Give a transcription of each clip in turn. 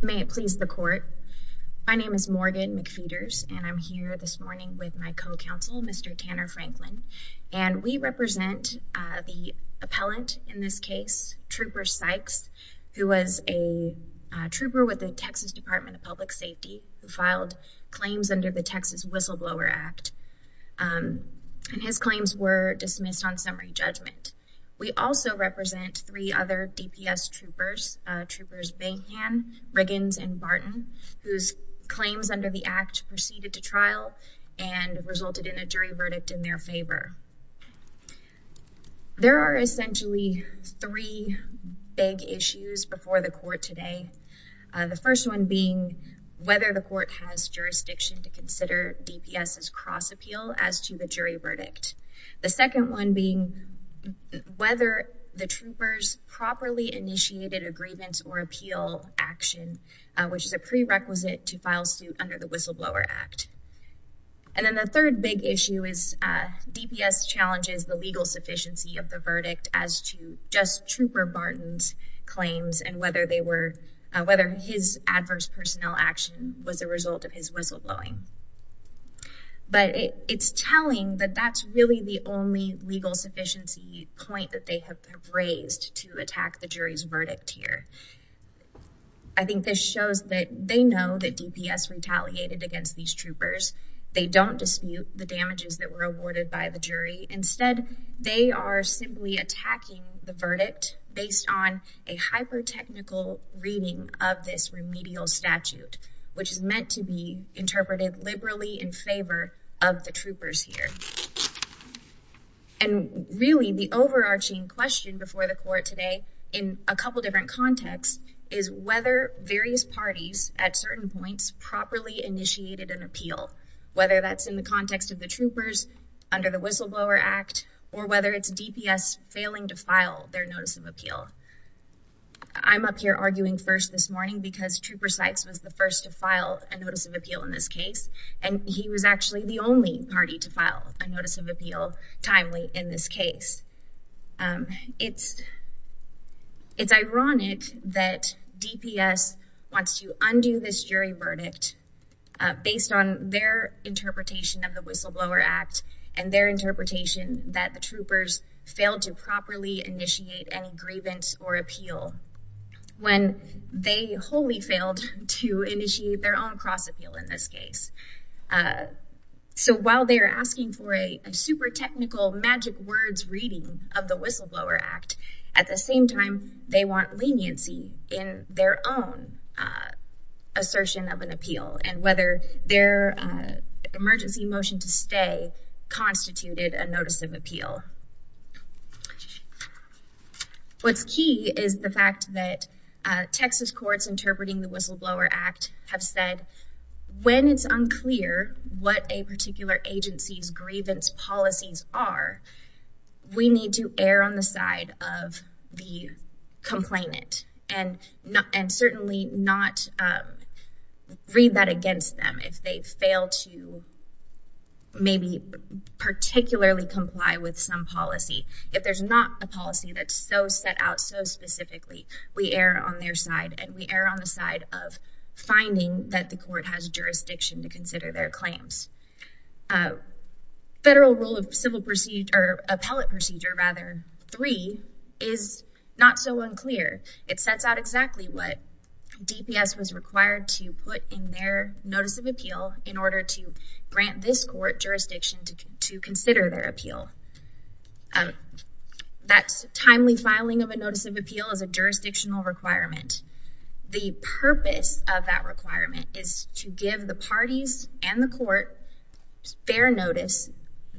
May it please the court. My name is Morgan McPheeters, and I'm here this morning with my co-counsel, Mr. Tanner Franklin, and we represent the appellant in this case, Trooper Sykes, who was a trooper with the Texas Department of Public Safety who filed claims under the act. We also represent three other DPS troopers, Troopers Banhan, Riggins, and Barton, whose claims under the act proceeded to trial and resulted in a jury verdict in their favor. There are essentially three big issues before the court today. The first one being whether the court has jurisdiction to consider DPS's cross appeal as to the jury verdict. The second one being whether the troopers properly initiated a grievance or appeal action, which is a prerequisite to file suit under the Whistleblower Act. And then the third big issue is DPS challenges the legal sufficiency of the verdict as to just Trooper Barton's claims and whether they were whether his adverse personnel action was a result of his whistleblowing. But it's telling that that's really the only legal sufficiency point that they have raised to attack the jury's verdict here. I think this shows that they know that DPS retaliated against these troopers. They don't dispute the damages that were awarded by the jury. Instead, they are simply attacking the verdict based on a hyper technical reading of this remedial statute, which is meant to be interpreted liberally in favor of the troopers here. And really, the overarching question before the court today in a couple different contexts is whether various parties at certain points properly initiated an appeal, whether that's in the context of the troopers under the Whistleblower Act, or whether it's DPS failing to file their notice of appeal. I'm up here arguing first this morning because Trooper Sykes was the first to file a notice of appeal in this case. And he was actually the only party to file a notice of appeal timely in this case. It's it's ironic that DPS wants to undo this jury verdict based on their interpretation of the Whistleblower Act, and their interpretation that the troopers failed to properly initiate any grievance or appeal when they wholly failed to initiate their own cross appeal in this case. So while they're asking for a super technical magic words reading of the Whistleblower Act, at the same time, they want leniency in their own assertion of an appeal and whether their emergency motion to stay constituted a notice of appeal. What's key is the fact that Texas courts interpreting the Whistleblower Act have said, when it's unclear what a particular agency's grievance policies are, we need to err on the side of the complainant and not and certainly not read that against them if they fail to maybe particularly comply with some policy. If there's not a policy that's so set out so specifically, we err on their side and we err on the side of finding that the court has jurisdiction to consider their claims. Federal Rule of Civil Procedure or Appellate Procedure rather 3 is not so unclear. It sets out exactly what DPS was required to put in their notice of appeal in order to grant this court jurisdiction to consider their appeal. That timely filing of a notice of appeal is a jurisdictional requirement. The purpose of that requirement is to give the parties and the court fair notice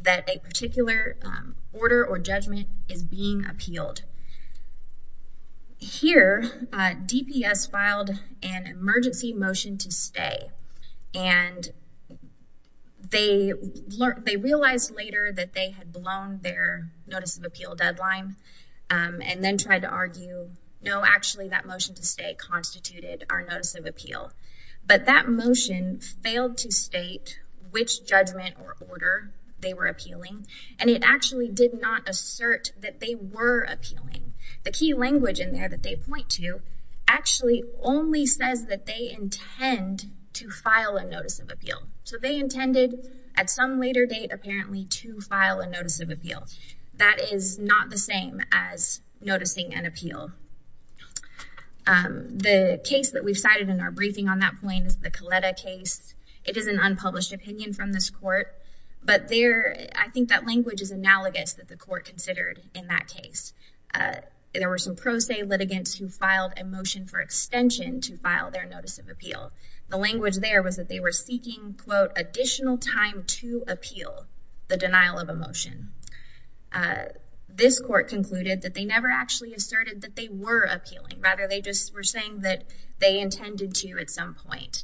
that a particular order or judgment is being appealed. Here, DPS filed an emergency motion to stay and they realized later that they had blown their notice of appeal deadline and then tried to argue, no, actually that motion to stay constituted our notice of appeal. But that actually did not assert that they were appealing. The key language in there that they point to actually only says that they intend to file a notice of appeal. So they intended at some later date apparently to file a notice of appeal. That is not the same as noticing an appeal. The case that we've cited in our briefing on that point is the Coletta case. It is an unpublished opinion from this court but there I think that language is analogous that the court considered in that case. There were some pro se litigants who filed a motion for extension to file their notice of appeal. The language there was that they were seeking quote additional time to appeal the denial of a motion. This court concluded that they never actually asserted that they were appealing. Rather they just were saying that they intended to at some point.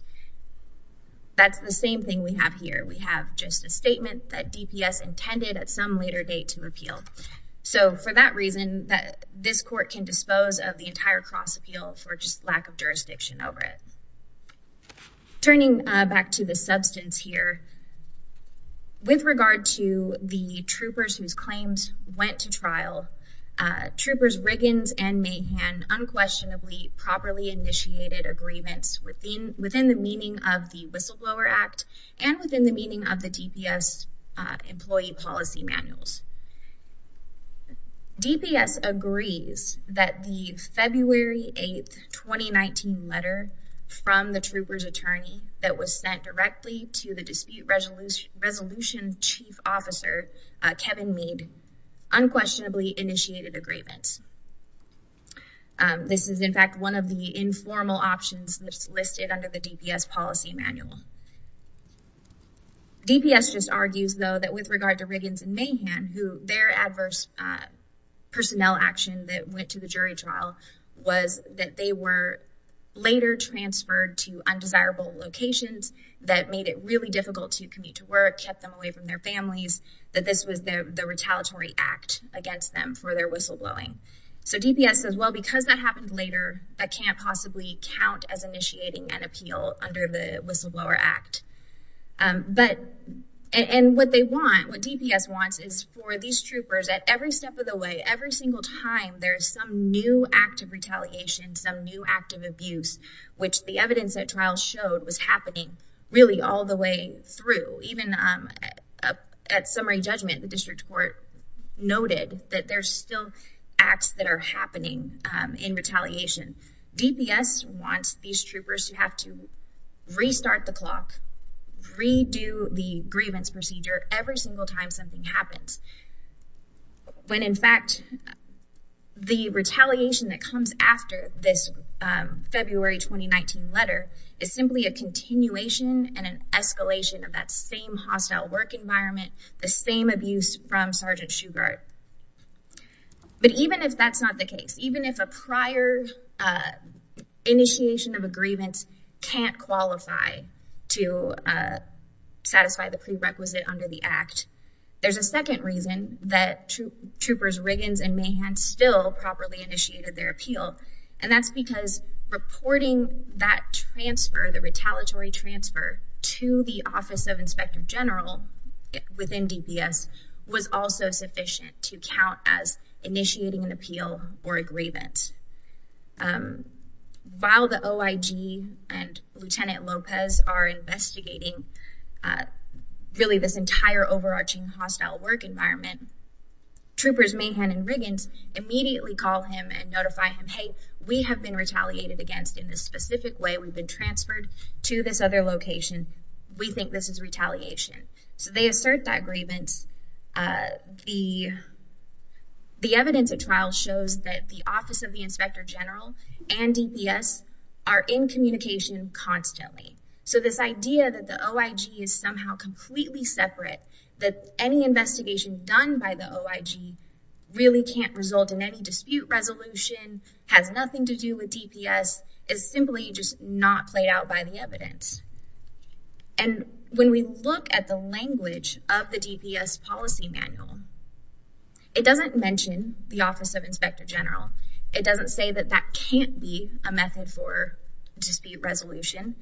That's the same thing we have here. We have just a statement that DPS intended at some later date to appeal. So for that reason that this court can dispose of the entire cross appeal for just lack of jurisdiction over it. Turning back to the substance here, with regard to the troopers whose claims went to trial, troopers Riggins and Mahan unquestionably properly initiated agreements within the meaning of the whistleblower act and within the meaning of the DPS employee policy manuals. DPS agrees that the February 8th 2019 letter from the troopers attorney that was sent directly to the dispute resolution chief officer Kevin Meade unquestionably initiated agreements. This is in fact one of the informal options that's listed under the DPS policy manual. DPS just argues though that with regard to Riggins and Mahan who their adverse personnel action that went to the jury trial was that they were later transferred to undesirable locations that made it really difficult to commute to work, kept them away from their families, that this was their the retaliatory act against them for their whistleblowing. So DPS says well because that happened later that can't possibly count as initiating an appeal under the whistleblower act. But and what they want what DPS wants is for these troopers at every step of the way every single time there's some new act of retaliation some new act of abuse which the evidence at trial showed was happening really all the way through even at summary judgment the district court noted that there's still acts that are happening in retaliation. DPS wants these troopers to have to restart the clock redo the grievance procedure every single time something happens when in fact the retaliation that comes after this February 2019 letter is simply a continuation and an escalation of that same hostile work environment the same abuse from sergeant Shugart. But even if that's not the case even if a prior initiation of a grievance can't qualify to second reason that troopers Riggins and Mahan still properly initiated their appeal and that's because reporting that transfer the retaliatory transfer to the office of inspector general within DPS was also sufficient to count as initiating an appeal or a grievance. While the OIG and lieutenant Lopez are investigating really this entire overarching hostile work environment troopers Mahan and Riggins immediately call him and notify him hey we have been retaliated against in this specific way we've been transferred to this other location we think this is retaliation. So they assert that grievance the the evidence at trial shows that the office of the inspector general and DPS are in communication constantly. So this idea that the OIG is somehow completely separate that any investigation done by the OIG really can't result in any dispute resolution has nothing to do with DPS is simply just not played out by the evidence. And when we look at the language of the DPS policy manual it doesn't mention the office of inspector general it doesn't say that that can't be a method for dispute resolution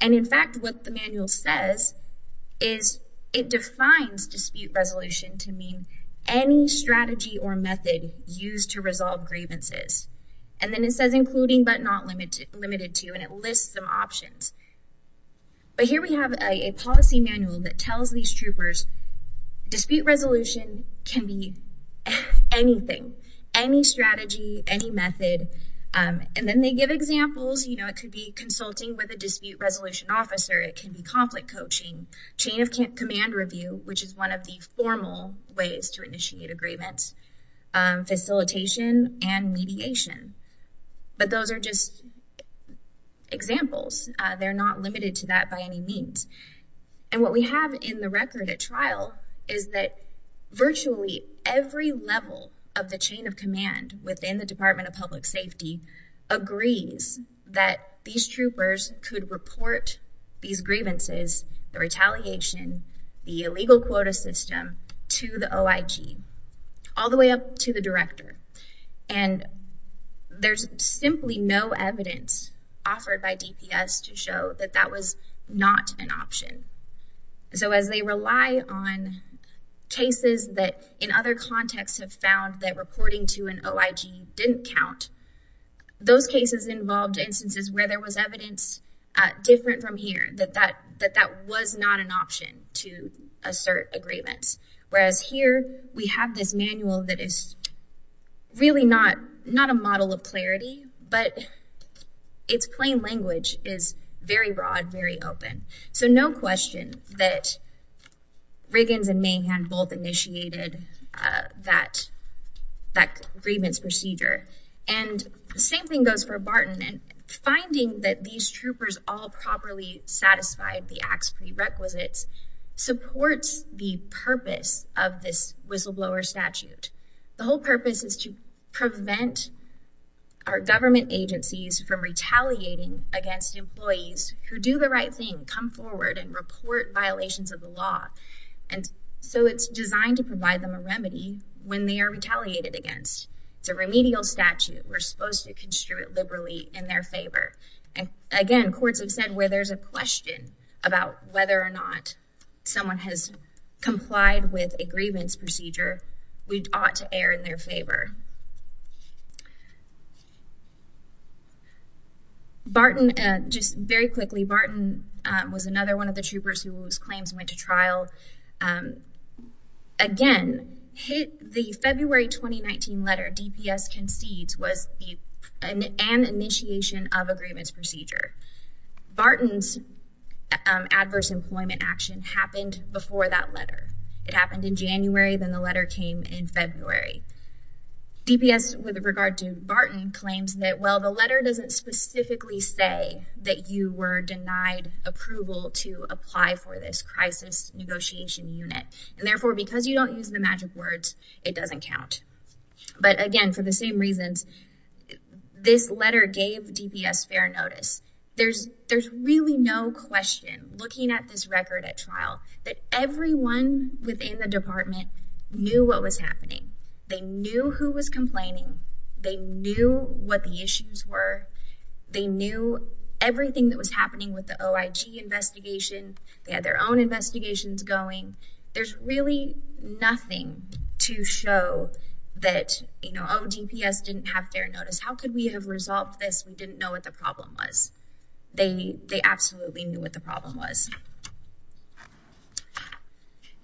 and in fact what the manual says is it defines dispute resolution to mean any strategy or method used to resolve grievances and then it says including but not limited to and it lists some options. But here we have a policy manual that tells these troopers dispute resolution can be anything any strategy any method and then they give examples you know it could be consulting with a dispute resolution officer it can be conflict coaching chain of command review which is one of the formal ways to initiate agreements facilitation and mediation but those are just examples they're not limited to that by any means and what we have in the record at trial is that virtually every level of the chain of command within the department of public safety agrees that these troopers could report these grievances the retaliation the illegal quota system to the OIG all the way up to the director and there's simply no evidence offered by DPS to show that that was not an option. So as they rely on cases that in other contexts have found that reporting to an OIG didn't count those cases involved instances where there was evidence different from here that that that that was not an option to assert agreements whereas here we have this manual that is really not not a model of clarity but its plain language is very broad very open so no question that Riggins and Mahan both initiated that that grievance procedure and the same thing goes for Barton and finding that these troopers all properly satisfied the acts prerequisites supports the purpose of this whistleblower statute the whole purpose is to prevent our government agencies from retaliating against employees who do the right thing come forward and report violations of the law and so it's designed to provide them a remedy when they are retaliated against it's a remedial statute we're supposed to construe it liberally in their favor and again courts have said where there's a question about whether or not someone has complied with a grievance procedure we ought to err in their favor. Barton just very quickly Barton was another one of the troopers whose claims went to trial again hit the February 2019 letter DPS concedes was an initiation of agreements procedure. Barton's adverse employment action happened before that letter it happened in January then the letter came in February. DPS with regard to Barton claims that well the letter doesn't specifically say that you were denied approval to apply for this crisis negotiation unit and therefore because you don't use the magic words it doesn't count but again for the same reasons this letter gave DPS fair notice there's there's really no question looking at this record at trial that everyone within the department knew what was happening they knew who was complaining they knew what the issues were they knew everything that was happening with the OIG investigation they had their own investigations going there's really nothing to show that you know oh DPS didn't have their notice how could we have resolved this we didn't know what the problem was they they absolutely knew what the problem was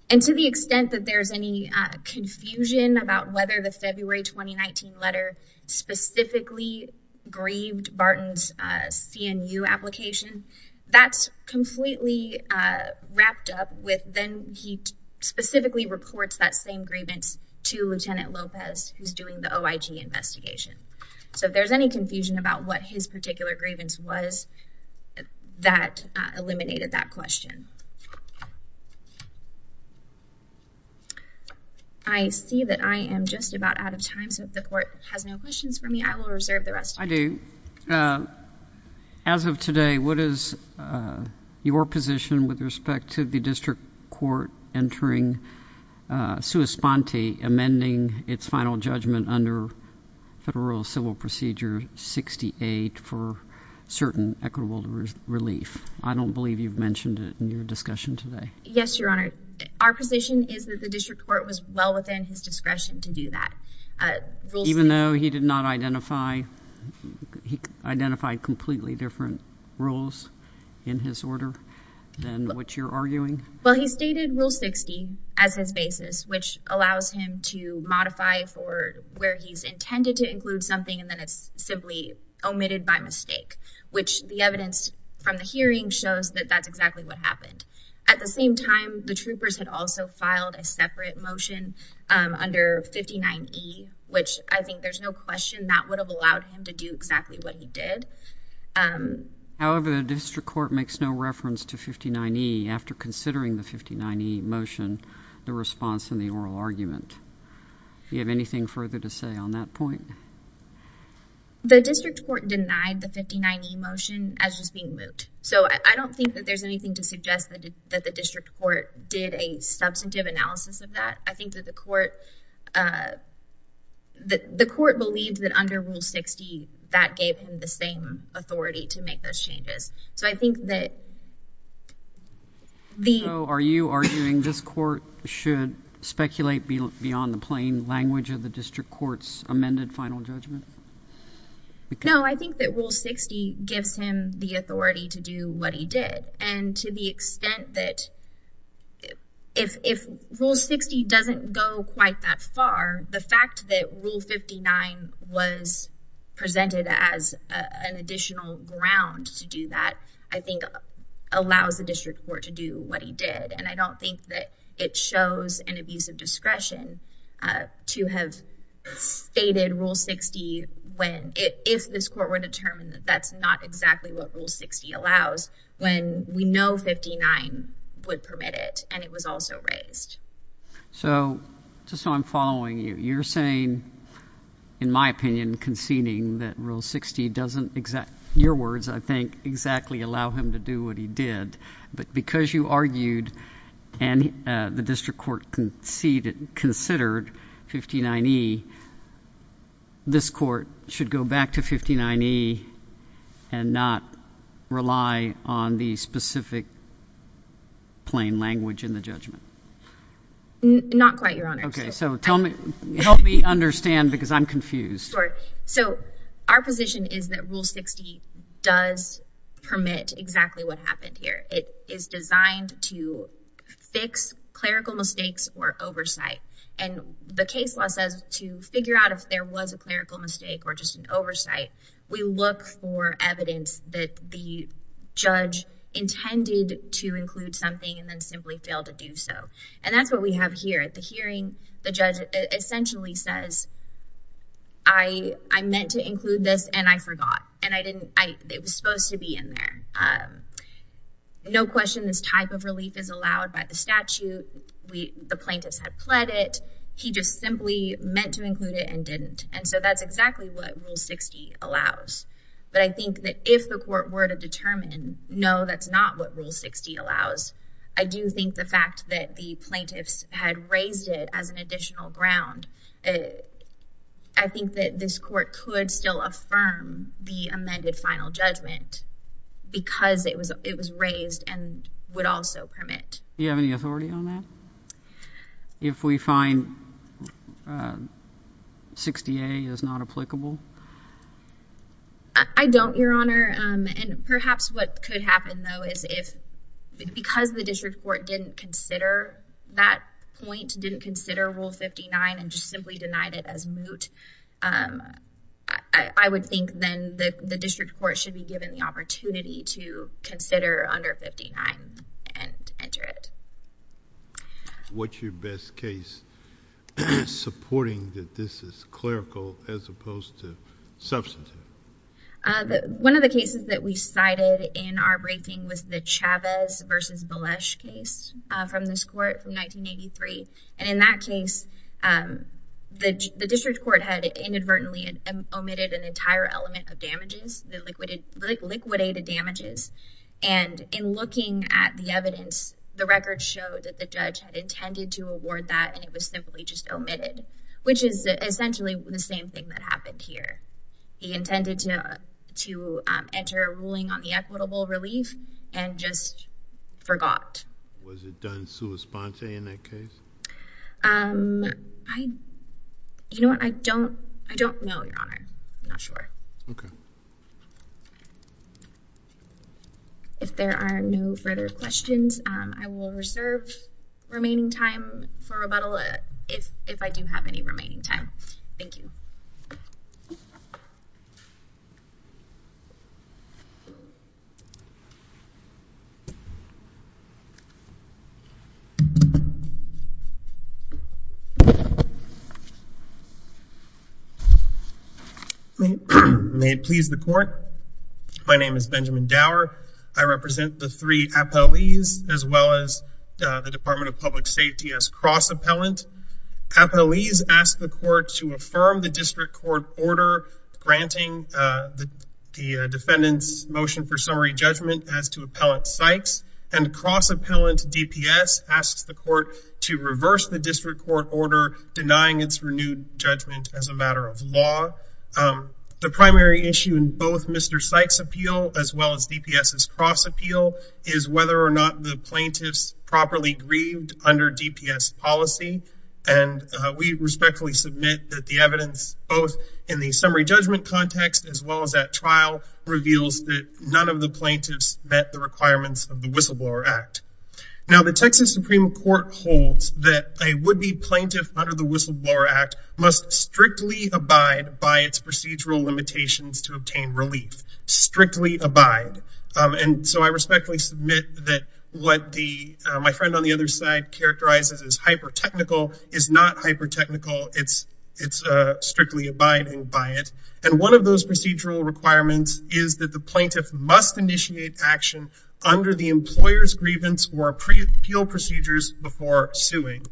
and to the extent that there's any confusion about whether the February 2019 letter specifically grieved Barton's CNU application that's completely wrapped up with then he specifically reports that same grievance to Lieutenant Lopez who's doing the OIG investigation so if there's any confusion about what his particular grievance was that eliminated that question. I see that I am just about out of time so if the court has no questions for me I will reserve the rest I do as of today what is your position with respect to the district court entering sua sponte amending its final judgment under federal civil procedure 68 for certain equitable relief I don't believe you've mentioned it in your discussion today yes your honor our position is that the district court was well within his discretion to do that even though he did not identify he identified completely different rules in his order than what you're arguing well he stated rule 60 as his basis which allows him to modify for where he's intended to include something and then it's simply omitted by mistake which the evidence from the hearing shows that that's exactly what happened at the same time the troopers had also filed a separate motion under 59e which I think there's no question that would have allowed him to do exactly what he did however the district court makes no reference to 59e after considering the 59e motion the response in the oral argument you have anything further to say on that point the district court denied the 59e motion as just being moot so I don't think that there's anything to suggest that that the district court did a substantive analysis of that I think that the court uh that the court believes that under rule 60 that gave him the same authority to make those so I think that the are you arguing this court should speculate beyond the plain language of the district court's amended final judgment no I think that rule 60 gives him the authority to do what he did and to the extent that if if rule 60 doesn't go quite that far the fact that rule 59 was presented as an additional ground to do that I think allows the district court to do what he did and I don't think that it shows an abuse of discretion uh to have stated rule 60 when if this court were determined that's not exactly what rule 60 allows when we know 59 would permit it and it was also raised so just so I'm following you you're saying in my opinion conceding that rule 60 doesn't exact your words I think exactly allow him to do what he did but because you argued and the district court conceded considered 59e this court should go back to 59e and not rely on the specific plain language in the judgment not quite your honor okay so tell me help me understand because I'm confused so our position is that rule 60 does permit exactly what happened here it is designed to fix clerical mistakes or oversight and the case law says to figure out if there was a clerical mistake or just an oversight we look for evidence that the judge intended to include something and then simply fail to do so and that's what we have here at the hearing the judge essentially says I I meant to include this and I forgot and I didn't I it was supposed to be in there um no question this type of relief is allowed by the statute we the plaintiffs had pled it he just meant to include it and didn't and so that's exactly what rule 60 allows but I think that if the court were to determine no that's not what rule 60 allows I do think the fact that the plaintiffs had raised it as an additional ground I think that this court could still affirm the amended final judgment because it was it was raised and would also permit you have any authority on that if we find uh 60a is not applicable I don't your honor um and perhaps what could happen though is if because the district court didn't consider that point didn't consider rule 59 and just simply denied it as moot um I I would think then the the district court should be given the opportunity to what's your best case supporting that this is clerical as opposed to substantive uh one of the cases that we cited in our briefing was the chavez versus belesh case uh from this court from 1983 and in that case um the the district court had inadvertently omitted an entire element of damages the liquid liquidated damages and in looking at the evidence the record showed that the judge had intended to award that and it was simply just omitted which is essentially the same thing that happened here he intended to to enter a ruling on the equitable relief and just forgot was it done okay if there are no further questions um I will reserve remaining time for rebuttal if if I do have any remaining time thank you so may it please the court my name is benjamin dower I represent the three appellees as well as the department of public safety as cross appellant appellees ask the court to affirm the district court order granting the defendant's motion for summary judgment as to appellant sykes and cross appellant dps asks the court to reverse the district court order denying its renewed judgment as a matter of law the primary issue in both mr sykes appeal as well as dps's cross appeal is whether or not the plaintiffs properly grieved under dps policy and we respectfully submit that evidence both in the summary judgment context as well as that trial reveals that none of the plaintiffs met the requirements of the whistleblower act now the texas supreme court holds that a would be plaintiff under the whistleblower act must strictly abide by its procedural limitations to obtain relief strictly abide and so I respectfully submit that what the my friend on the other side characterizes as hyper technical is not hyper technical it's it's strictly abiding by it and one of those procedural requirements is that the plaintiff must initiate action under the employer's grievance or pre-appeal procedures before suing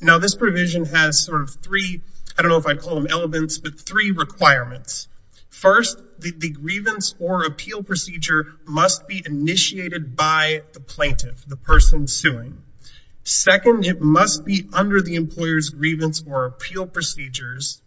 now this provision has sort of three I don't know if I'd call them elements but three requirements first the grievance or appeal procedure must be initiated by the plaintiff the person suing second it must be under the employer's grievance or appeal procedures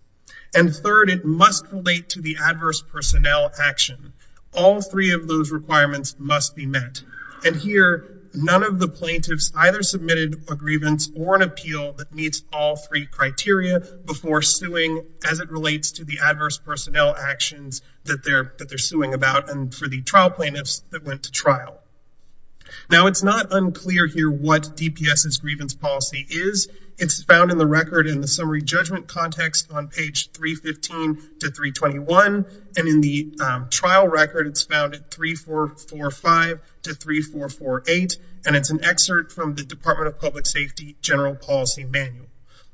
and third it must relate to the adverse personnel action all three of those requirements must be met and here none of the plaintiffs either submitted a grievance or an appeal that meets all three criteria before suing as it relates to the adverse personnel actions that they're that they're suing about and for the trial plaintiffs that went to trial now it's not unclear here what dps's grievance policy is it's found in the record in the summary judgment context on page 315 to 321 and in the trial record it's found at 3445 to 3448 and it's an excerpt from the department of public safety general policy manual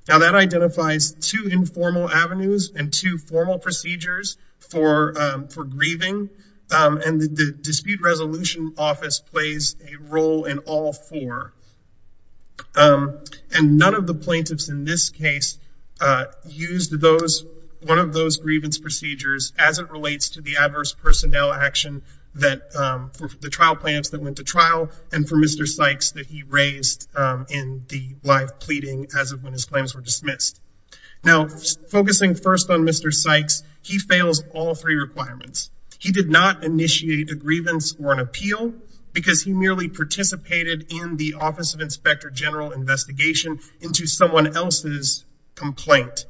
now that identifies two informal avenues and two formal procedures for for grieving and the dispute resolution office plays a role in all four and none of the plaintiffs in this case used those one of those grievance procedures as it relates to the adverse personnel action that for the trial plaintiffs that went to trial and for mr sykes that he raised in the live pleading as of when his claims were dismissed now focusing first on mr sykes he fails all three requirements he did not initiate a grievance or an appeal because he merely participated in the office of inspector general investigation into someone else's complaint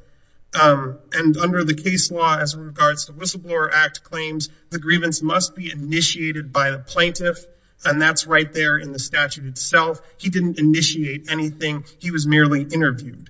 and under the case law as regards to whistleblower act claims the grievance must be initiated by the he didn't initiate anything he was merely interviewed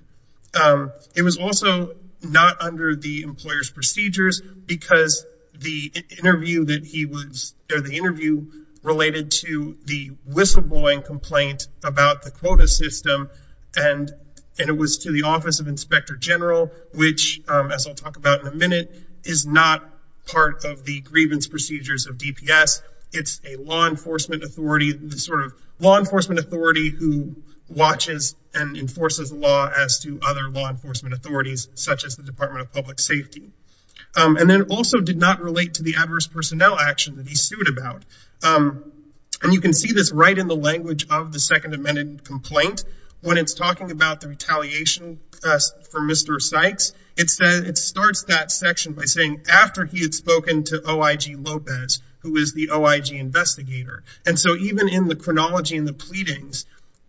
it was also not under the employer's procedures because the interview that he was there the interview related to the whistleblowing complaint about the quota system and and it was to the office of inspector general which as i'll talk about in a minute is not part of the grievance procedures of dps it's a law enforcement authority who watches and enforces law as to other law enforcement authorities such as the department of public safety and then also did not relate to the adverse personnel action that he sued about and you can see this right in the language of the second amended complaint when it's talking about the retaliation for mr sykes it says it starts that section by saying after he had spoken to oig lopez who is the oig investigator and so even in the chronology in the pleadings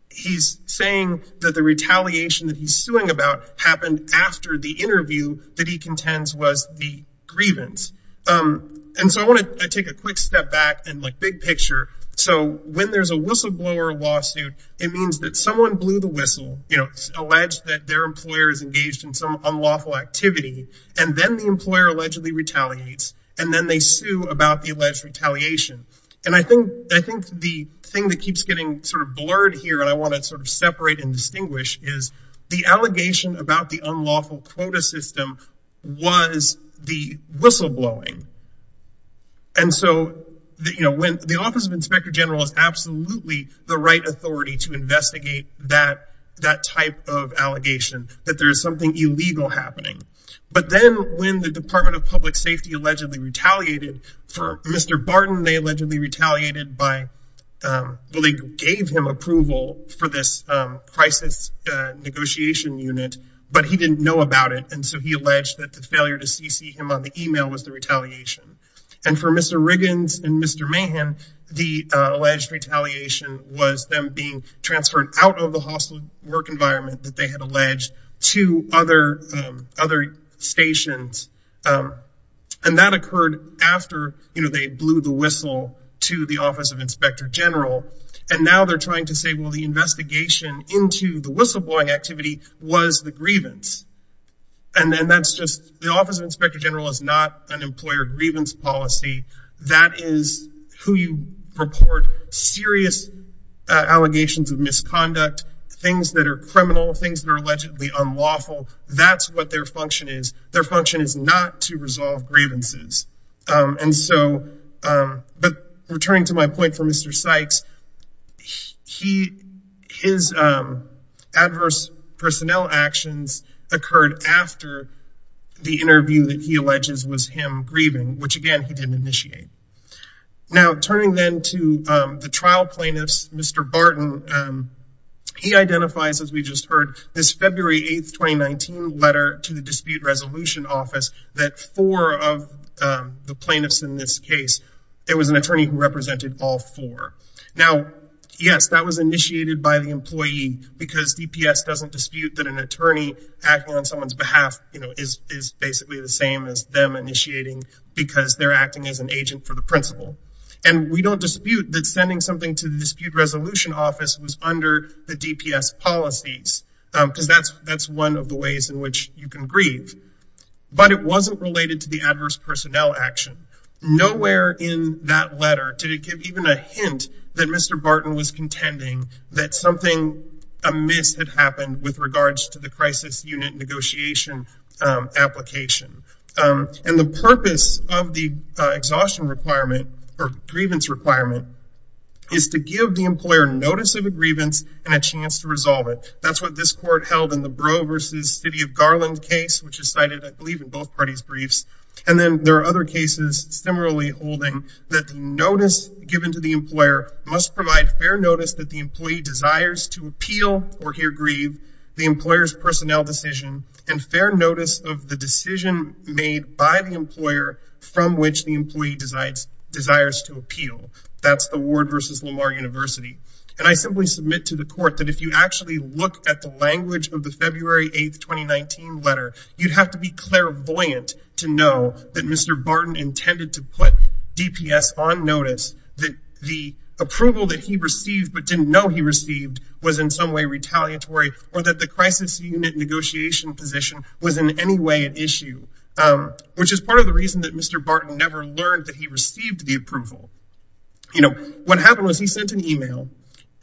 he's saying that the retaliation that he's suing about happened after the interview that he contends was the grievance um and so i want to take a quick step back and like big picture so when there's a whistleblower lawsuit it means that someone blew the whistle you know alleged that their employer is engaged in some unlawful activity and then the employer allegedly retaliates and then they sue about the alleged retaliation and i think i think the thing that keeps getting sort of blurred here and i want to sort of separate and distinguish is the allegation about the unlawful quota system was the whistleblowing and so that you know when the office of inspector general is absolutely the right authority to investigate that that type of allegation that there is something illegal happening but then when the department of public gave him approval for this crisis negotiation unit but he didn't know about it and so he alleged that the failure to cc him on the email was the retaliation and for mr riggins and mr mayhem the alleged retaliation was them being transferred out of the hostel work environment that they had alleged to other other stations and that occurred after you know they blew the whistle to the office of inspector general and now they're trying to say well the investigation into the whistleblowing activity was the grievance and then that's just the office of inspector general is not an employer grievance policy that is who you report serious allegations of misconduct things that are criminal things that are allegedly unlawful that's what their function is their function is not to resolve for mr sykes he his adverse personnel actions occurred after the interview that he alleges was him grieving which again he didn't initiate now turning then to the trial plaintiffs mr barton he identifies as we just heard this february 8th 2019 letter to the dispute resolution office that four of the plaintiffs in this case there was an attorney who represented all four now yes that was initiated by the employee because dps doesn't dispute that an attorney acting on someone's behalf you know is is basically the same as them initiating because they're acting as an agent for the principal and we don't dispute that sending something to the dispute resolution office was under the dps policies because that's that's one of the ways in which you can grieve but it wasn't related to the adverse personnel action nowhere in that letter to give even a hint that mr barton was contending that something amiss had happened with regards to the crisis unit negotiation application and the purpose of the exhaustion requirement or grievance requirement is to give the employer notice of a grievance and a chance to resolve it that's what this court held in the and then there are other cases similarly holding that the notice given to the employer must provide fair notice that the employee desires to appeal or hear grieve the employer's personnel decision and fair notice of the decision made by the employer from which the employee decides desires to appeal that's the ward versus lamar university and i simply submit to the court that if you to know that mr barton intended to put dps on notice that the approval that he received but didn't know he received was in some way retaliatory or that the crisis unit negotiation position was in any way an issue um which is part of the reason that mr barton never learned that he received the approval you know what happened was he sent an email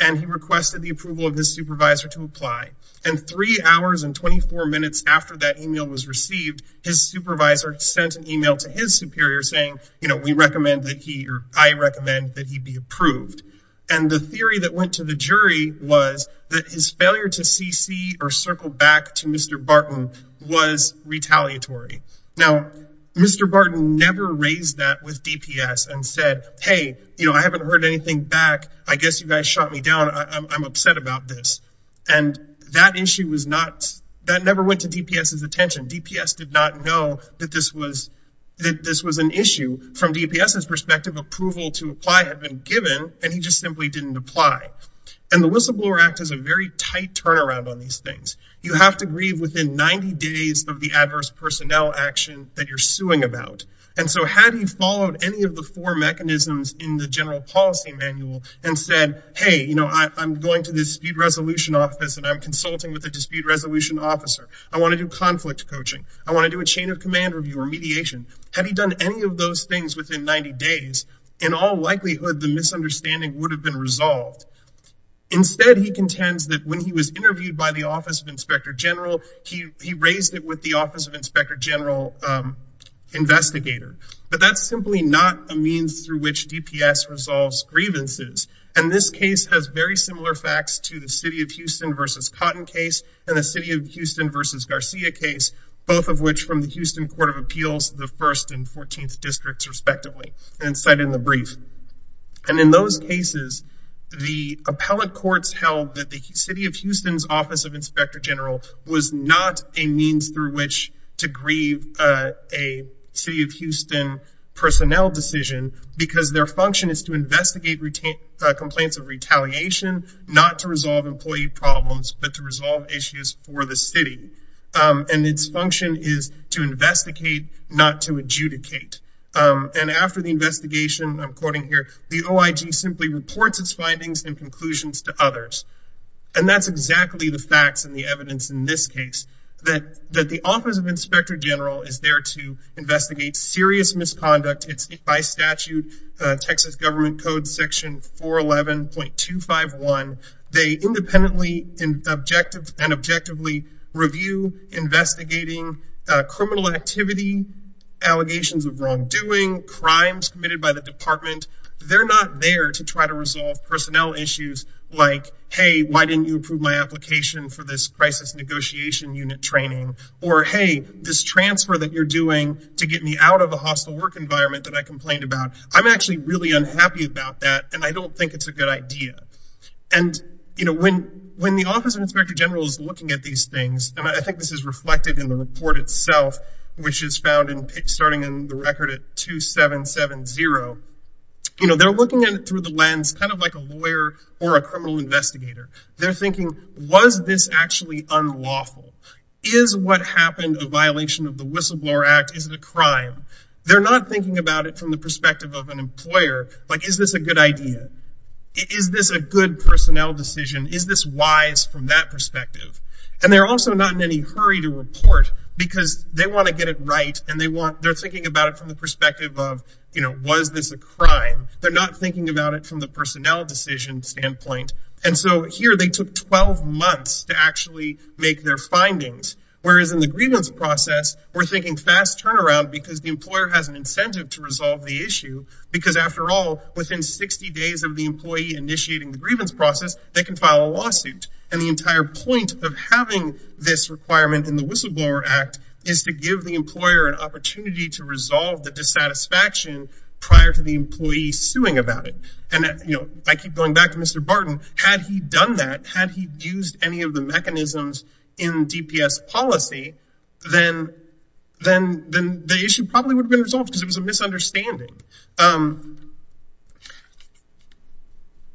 and he requested the approval of his supervisor and three hours and 24 minutes after that email was received his supervisor sent an email to his superior saying you know we recommend that he or i recommend that he be approved and the theory that went to the jury was that his failure to cc or circle back to mr barton was retaliatory now mr barton never raised that with dps and said hey you know i haven't heard anything back i guess you guys shot me down i'm upset about this and that issue was not that never went to dps's attention dps did not know that this was that this was an issue from dps's perspective approval to apply had been given and he just simply didn't apply and the whistleblower act is a very tight turnaround on these things you have to grieve within 90 days of the adverse personnel action that you're suing about and so had he followed any of the four mechanisms in the general policy manual and said hey you know i'm going to the dispute resolution office and i'm consulting with the dispute resolution officer i want to do conflict coaching i want to do a chain of command review or mediation had he done any of those things within 90 days in all likelihood the misunderstanding would have been resolved instead he contends that when he was interviewed by the office of inspector general he he raised it with the office of inspector general um investigator but that's simply not a means through which dps resolves grievances and this case has very similar facts to the city of houston versus cotton case and the city of houston versus garcia case both of which from the houston court of appeals the first and 14th districts respectively and cited in the brief and in those cases the appellate courts held that the city of houston's office of inspector general was not a means through which to grieve a city of houston personnel decision because their function is to investigate retain complaints of retaliation not to resolve employee problems but to resolve issues for the city and its function is to investigate not to adjudicate and after the investigation i'm quoting here the oig simply reports its findings and conclusions to others and that's exactly the facts and the evidence in this case that that the office of inspector general is there to investigate serious misconduct it's by statute texas government code section 411.251 they independently in objective and objectively review investigating criminal activity allegations of wrongdoing crimes committed by the department they're not there to try to resolve personnel issues like hey why didn't you approve my application for this crisis negotiation unit training or hey this transfer that you're doing to get me out of a hostile work environment that i complained about i'm actually really unhappy about that and i don't think it's a good idea and you know when when the office of inspector general is looking at these things and i think this is reflected in the report itself which is found in starting in the record at 2770 you know they're looking at it through the lens kind of like a lawyer or a criminal investigator they're thinking was this actually unlawful is what happened a violation of the whistleblower act is it a crime they're not thinking about it from the perspective of an employer like is this a good idea is this a good personnel decision is this wise from that perspective and they're also not in any hurry to report because they want to get it right and they want they're thinking about it from the perspective of you know was this a crime they're not thinking about it from the personnel decision standpoint and so here they took 12 months to actually make their findings whereas in the grievance process we're thinking fast turnaround because the employer has an incentive to resolve the issue because after all within 60 days of the employee initiating the grievance process they can file a lawsuit and the entire point of having this requirement in the whistleblower act is to give the employer an opportunity to resolve the dissatisfaction prior to the employee suing about it and that you know i keep going back to mr barton had he done that had he used any of the mechanisms in dps policy then then then the issue probably would have been resolved because it was a misunderstanding um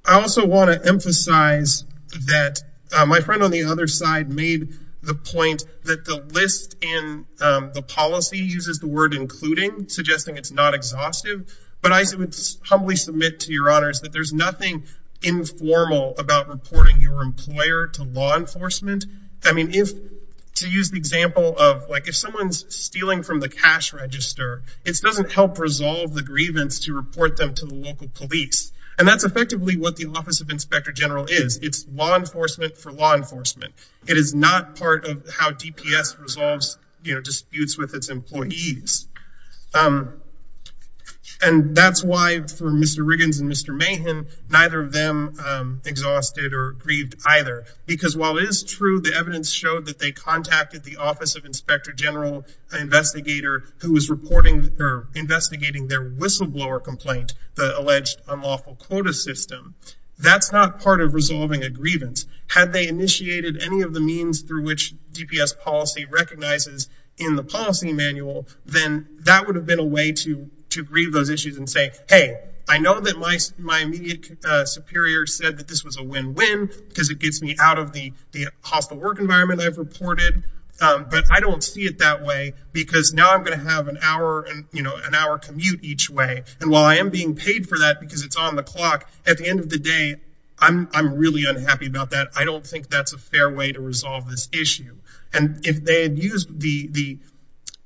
i also want to emphasize that my friend on the other side made the point that the list in the policy uses the word including suggesting it's not exhaustive but i would humbly submit to your honors that there's nothing informal about reporting your employer to law enforcement i mean if to use the example of like if someone's stealing from the cash register it doesn't help resolve the grievance to report them to the local police and that's effectively what the office of inspector general is it's law enforcement for law enforcement it is not part of how dps resolves you know disputes with its employees um and that's why for mr riggins and mr mahan neither of them um exhausted or grieved either because while it is true the evidence showed that they contacted the office of inspector general an investigator who was reporting or investigating their whistleblower complaint the alleged unlawful quota system that's not part of resolving a grievance had they initiated any of the means through which dps policy recognizes in the policy manual then that would have been a way to to grieve those issues and say hey i know that my my immediate superior said that this was a win-win because it gets me out of the the hostile work environment i've reported um but i don't see it that way because now i'm going to have an hour and you know an hour commute each way and while i am being paid for that because it's on the clock at the end of the day i'm i'm really unhappy about that i don't think that's a fair way to resolve this issue and if they had used the the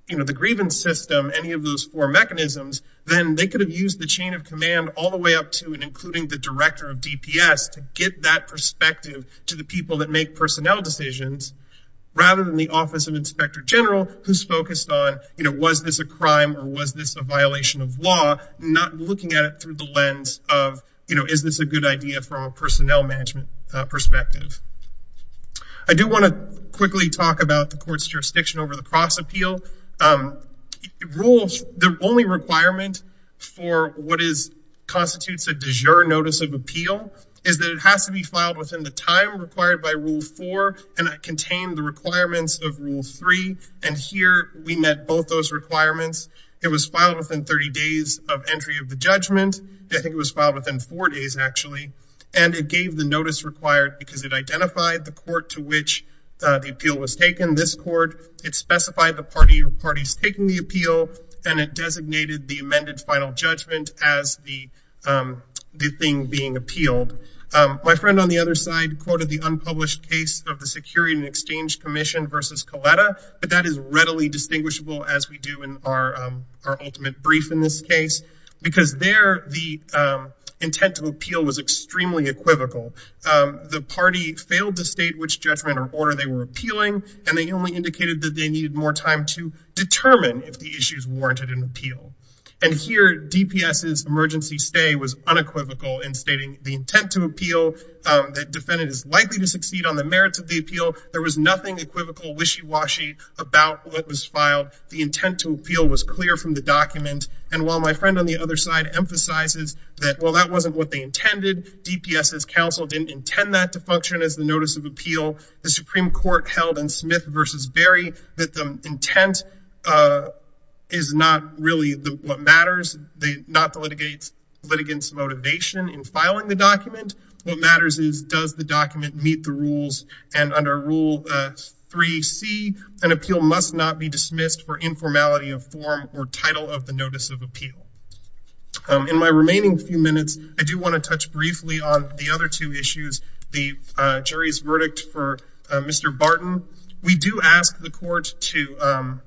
you know the grievance system any of those four mechanisms then they could have used the chain of command all the way up to and including the director of dps to get that perspective to the people that make personnel decisions rather than the office of inspector general who's focused on you know was this a crime or was this a violation of law not looking at it through the lens of you know is this a good idea from a personnel management perspective i do want to quickly talk about the court's jurisdiction over the cross appeal um rules the only requirement for what is constitutes a de jure notice of appeal is that it has to be filed within the time required by rule four and that contained the it was filed within 30 days of entry of the judgment i think it was filed within four days actually and it gave the notice required because it identified the court to which the appeal was taken this court it specified the party or parties taking the appeal and it designated the amended final judgment as the um the thing being appealed my friend on the other side quoted the unpublished case of the security and exchange commission versus coletta but that is readily distinguishable as we do in our our ultimate brief in this case because there the intent to appeal was extremely equivocal the party failed to state which judgment or order they were appealing and they only indicated that they needed more time to determine if the issues warranted an appeal and here dps's emergency stay was unequivocal in stating the intent to appeal that defendant is likely to succeed on the merits of the appeal there was nothing equivocal wishy about what was filed the intent to appeal was clear from the document and while my friend on the other side emphasizes that well that wasn't what they intended dps's counsel didn't intend that to function as the notice of appeal the supreme court held in smith versus berry that the intent uh is not really the what matters they not the litigates litigants motivation in filing the appeal must not be dismissed for informality of form or title of the notice of appeal in my remaining few minutes i do want to touch briefly on the other two issues the uh jury's verdict for mr barton we do ask the court to um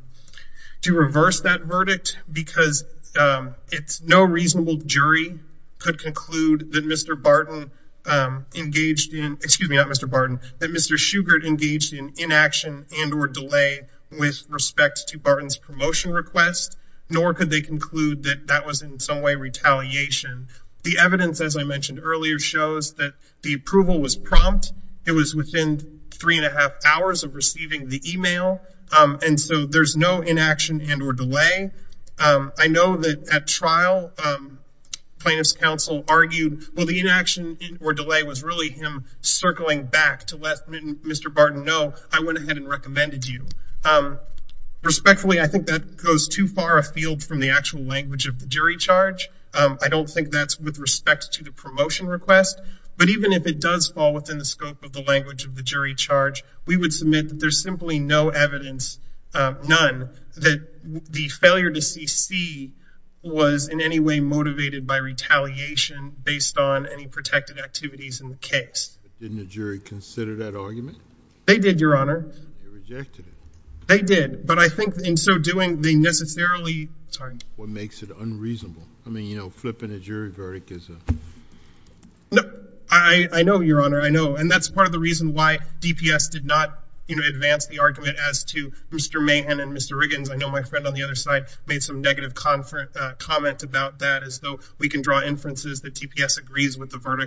to reverse that verdict because um it's no reasonable jury could conclude that mr barton engaged in excuse me not mr barton that mr engaged in inaction and or delay with respect to barton's promotion request nor could they conclude that that was in some way retaliation the evidence as i mentioned earlier shows that the approval was prompt it was within three and a half hours of receiving the email um and so there's no inaction and or delay um i know that at trial um plaintiff's counsel argued well the inaction or delay was really him circling back to let mr barton know i went ahead and recommended you um respectfully i think that goes too far afield from the actual language of the jury charge um i don't think that's with respect to the promotion request but even if it does fall within the scope of the language of the jury charge we would submit that there's simply no protected activities in the case didn't the jury consider that argument they did your honor they did but i think in so doing they necessarily sorry what makes it unreasonable i mean you know flipping a jury verdict is a no i i know your honor i know and that's part of the reason why dps did not you know advance the argument as to mr mahan and mr riggins i know my friend on the other side made some negative conference uh comment about that as though we can draw inferences that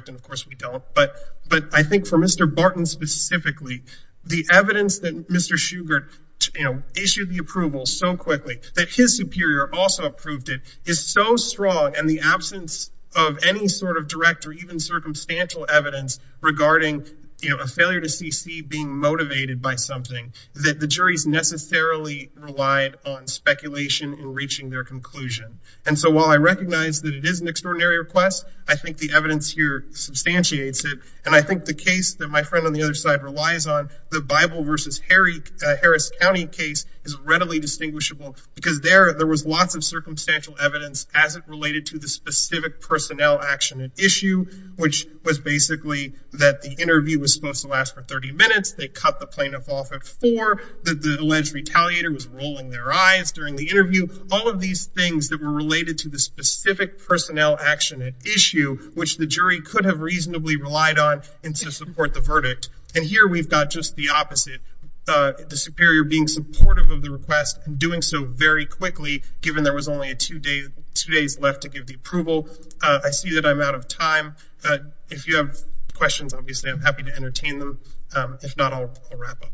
of course we don't but but i think for mr barton specifically the evidence that mr sugar you know issued the approval so quickly that his superior also approved it is so strong and the absence of any sort of direct or even circumstantial evidence regarding you know a failure to cc being motivated by something that the jury's necessarily relied on speculation in reaching their conclusion and so while i recognize that it is an extraordinary request i think the evidence here substantiates it and i think the case that my friend on the other side relies on the bible versus harry harris county case is readily distinguishable because there there was lots of circumstantial evidence as it related to the specific personnel action at issue which was basically that the interview was supposed to last for 30 minutes they cut the plaintiff off at four the alleged retaliator was rolling their eyes during the interview all of these things that related to the specific personnel action at issue which the jury could have reasonably relied on and to support the verdict and here we've got just the opposite uh the superior being supportive of the request and doing so very quickly given there was only a two day two days left to give the approval uh i see that i'm out of time uh if you have questions obviously i'm happy to entertain them um if not i'll wrap up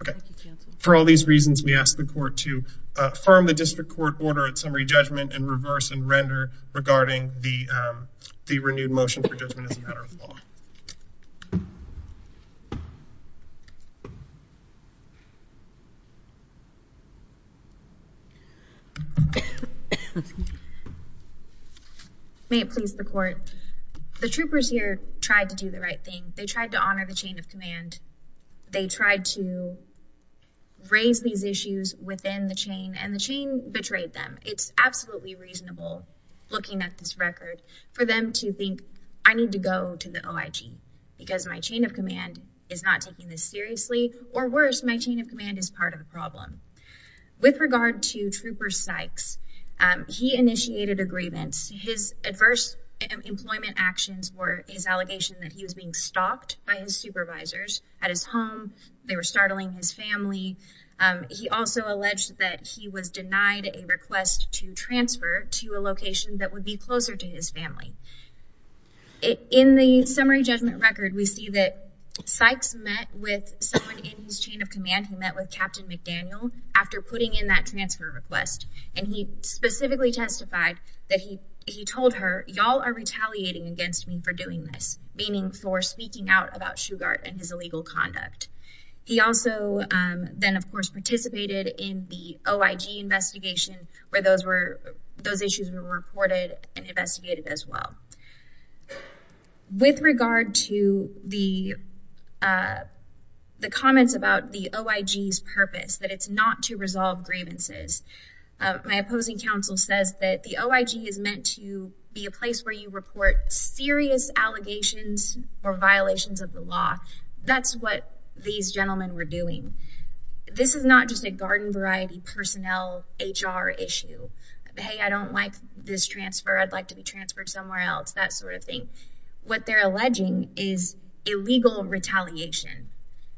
okay for all these reasons we ask the court to uh firm the district court order at summary judgment and reverse and render regarding the um the renewed motion for judgment as a matter of law may it please the court the troopers here tried to do the right thing they tried to honor the chain of command they tried to raise these issues within the chain and the chain betrayed them it's absolutely reasonable looking at this record for them to think i need to go to the oig because my chain of command is not taking this seriously or worse my chain of command is part of the problem with regard to trooper sykes um he initiated a grievance his adverse employment actions were his allegation that he was being stalked by his supervisors at his home they were denied a request to transfer to a location that would be closer to his family in the summary judgment record we see that sykes met with someone in his chain of command who met with captain mcdaniel after putting in that transfer request and he specifically testified that he he told her y'all are retaliating against me for doing this meaning for speaking out about investigation where those were those issues were reported and investigated as well with regard to the uh the comments about the oig's purpose that it's not to resolve grievances my opposing counsel says that the oig is meant to be a place where you report serious allegations or violations of the law that's what these gentlemen were doing this is not just a garden variety personnel hr issue hey i don't like this transfer i'd like to be transferred somewhere else that sort of thing what they're alleging is illegal retaliation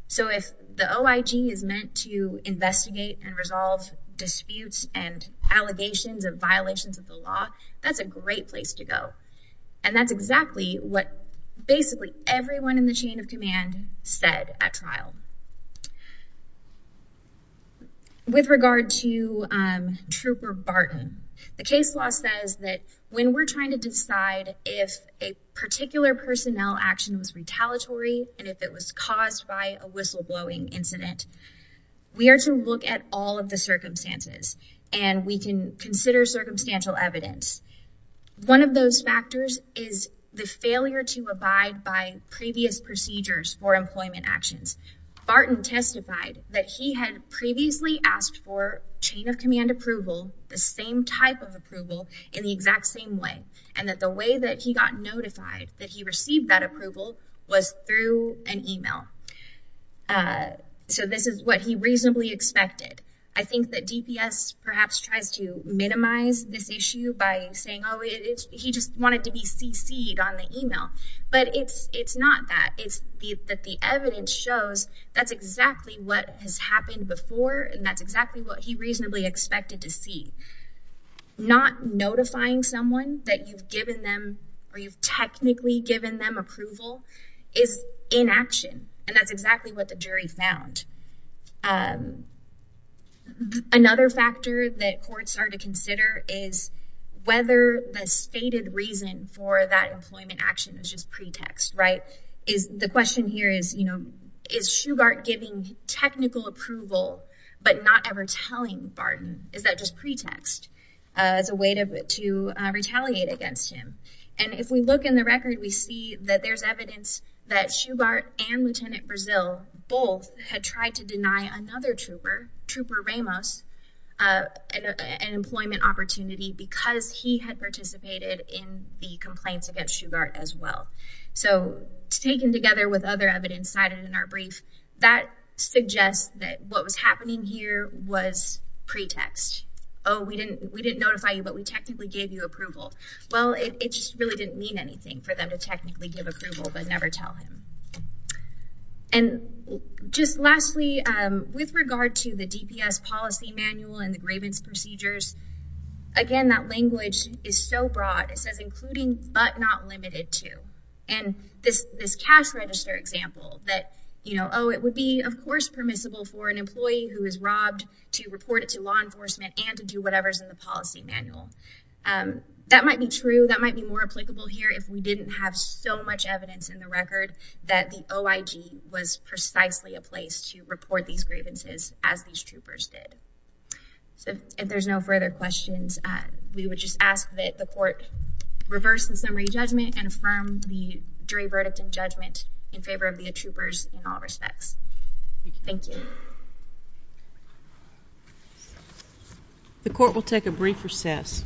so if the oig is meant to investigate and resolve disputes and allegations and violations of the law that's a great place to go and that's exactly what basically everyone in the chain of command said at trial with regard to um trooper barton the case law says that when we're trying to decide if a particular personnel action was retaliatory and if it was caused by a whistleblowing incident we are to look at all of the circumstances and we can consider circumstantial evidence one of those factors is the failure to abide by previous procedures for employment actions barton testified that he had previously asked for chain of command approval the same type of approval in the exact same way and that the way that he got notified that he received that approval was through an email uh so this is what he reasonably expected i think that dps perhaps tries to minimize this issue by saying oh he just wanted to be cc'd on the email but it's it's not that it's the that evidence shows that's exactly what has happened before and that's exactly what he reasonably expected to see not notifying someone that you've given them or you've technically given them approval is inaction and that's exactly what the jury found um another factor that courts are to consider is whether the stated reason for that employment action is just pretext right is the question here is you know is shugart giving technical approval but not ever telling barton is that just pretext as a way to to retaliate against him and if we look in the record we see that there's evidence that shugart and lieutenant brazil both had tried to deny another trooper trooper ramos uh an employment opportunity because he had participated in the complaints against shugart as well so taken together with other evidence cited in our brief that suggests that what was happening here was pretext oh we didn't we didn't notify you but we technically gave you approval well it just really didn't mean anything for them to technically give approval but never tell him and just lastly um with regard to the dps policy manual and the grievance procedures again that language is so broad it says including but not limited to and this this cash register example that you know oh it would be of course permissible for an employee who is robbed to report it to law enforcement and to do whatever's in the policy manual um that might be true that might be more applicable here if we didn't have so much evidence in the record that the oig was precisely a place to report these grievances as these troopers did so if there's no further questions we would just ask that the court reverse the summary judgment and affirm the jury verdict and judgment in favor of the troopers in all respects thank you the court will take a brief recess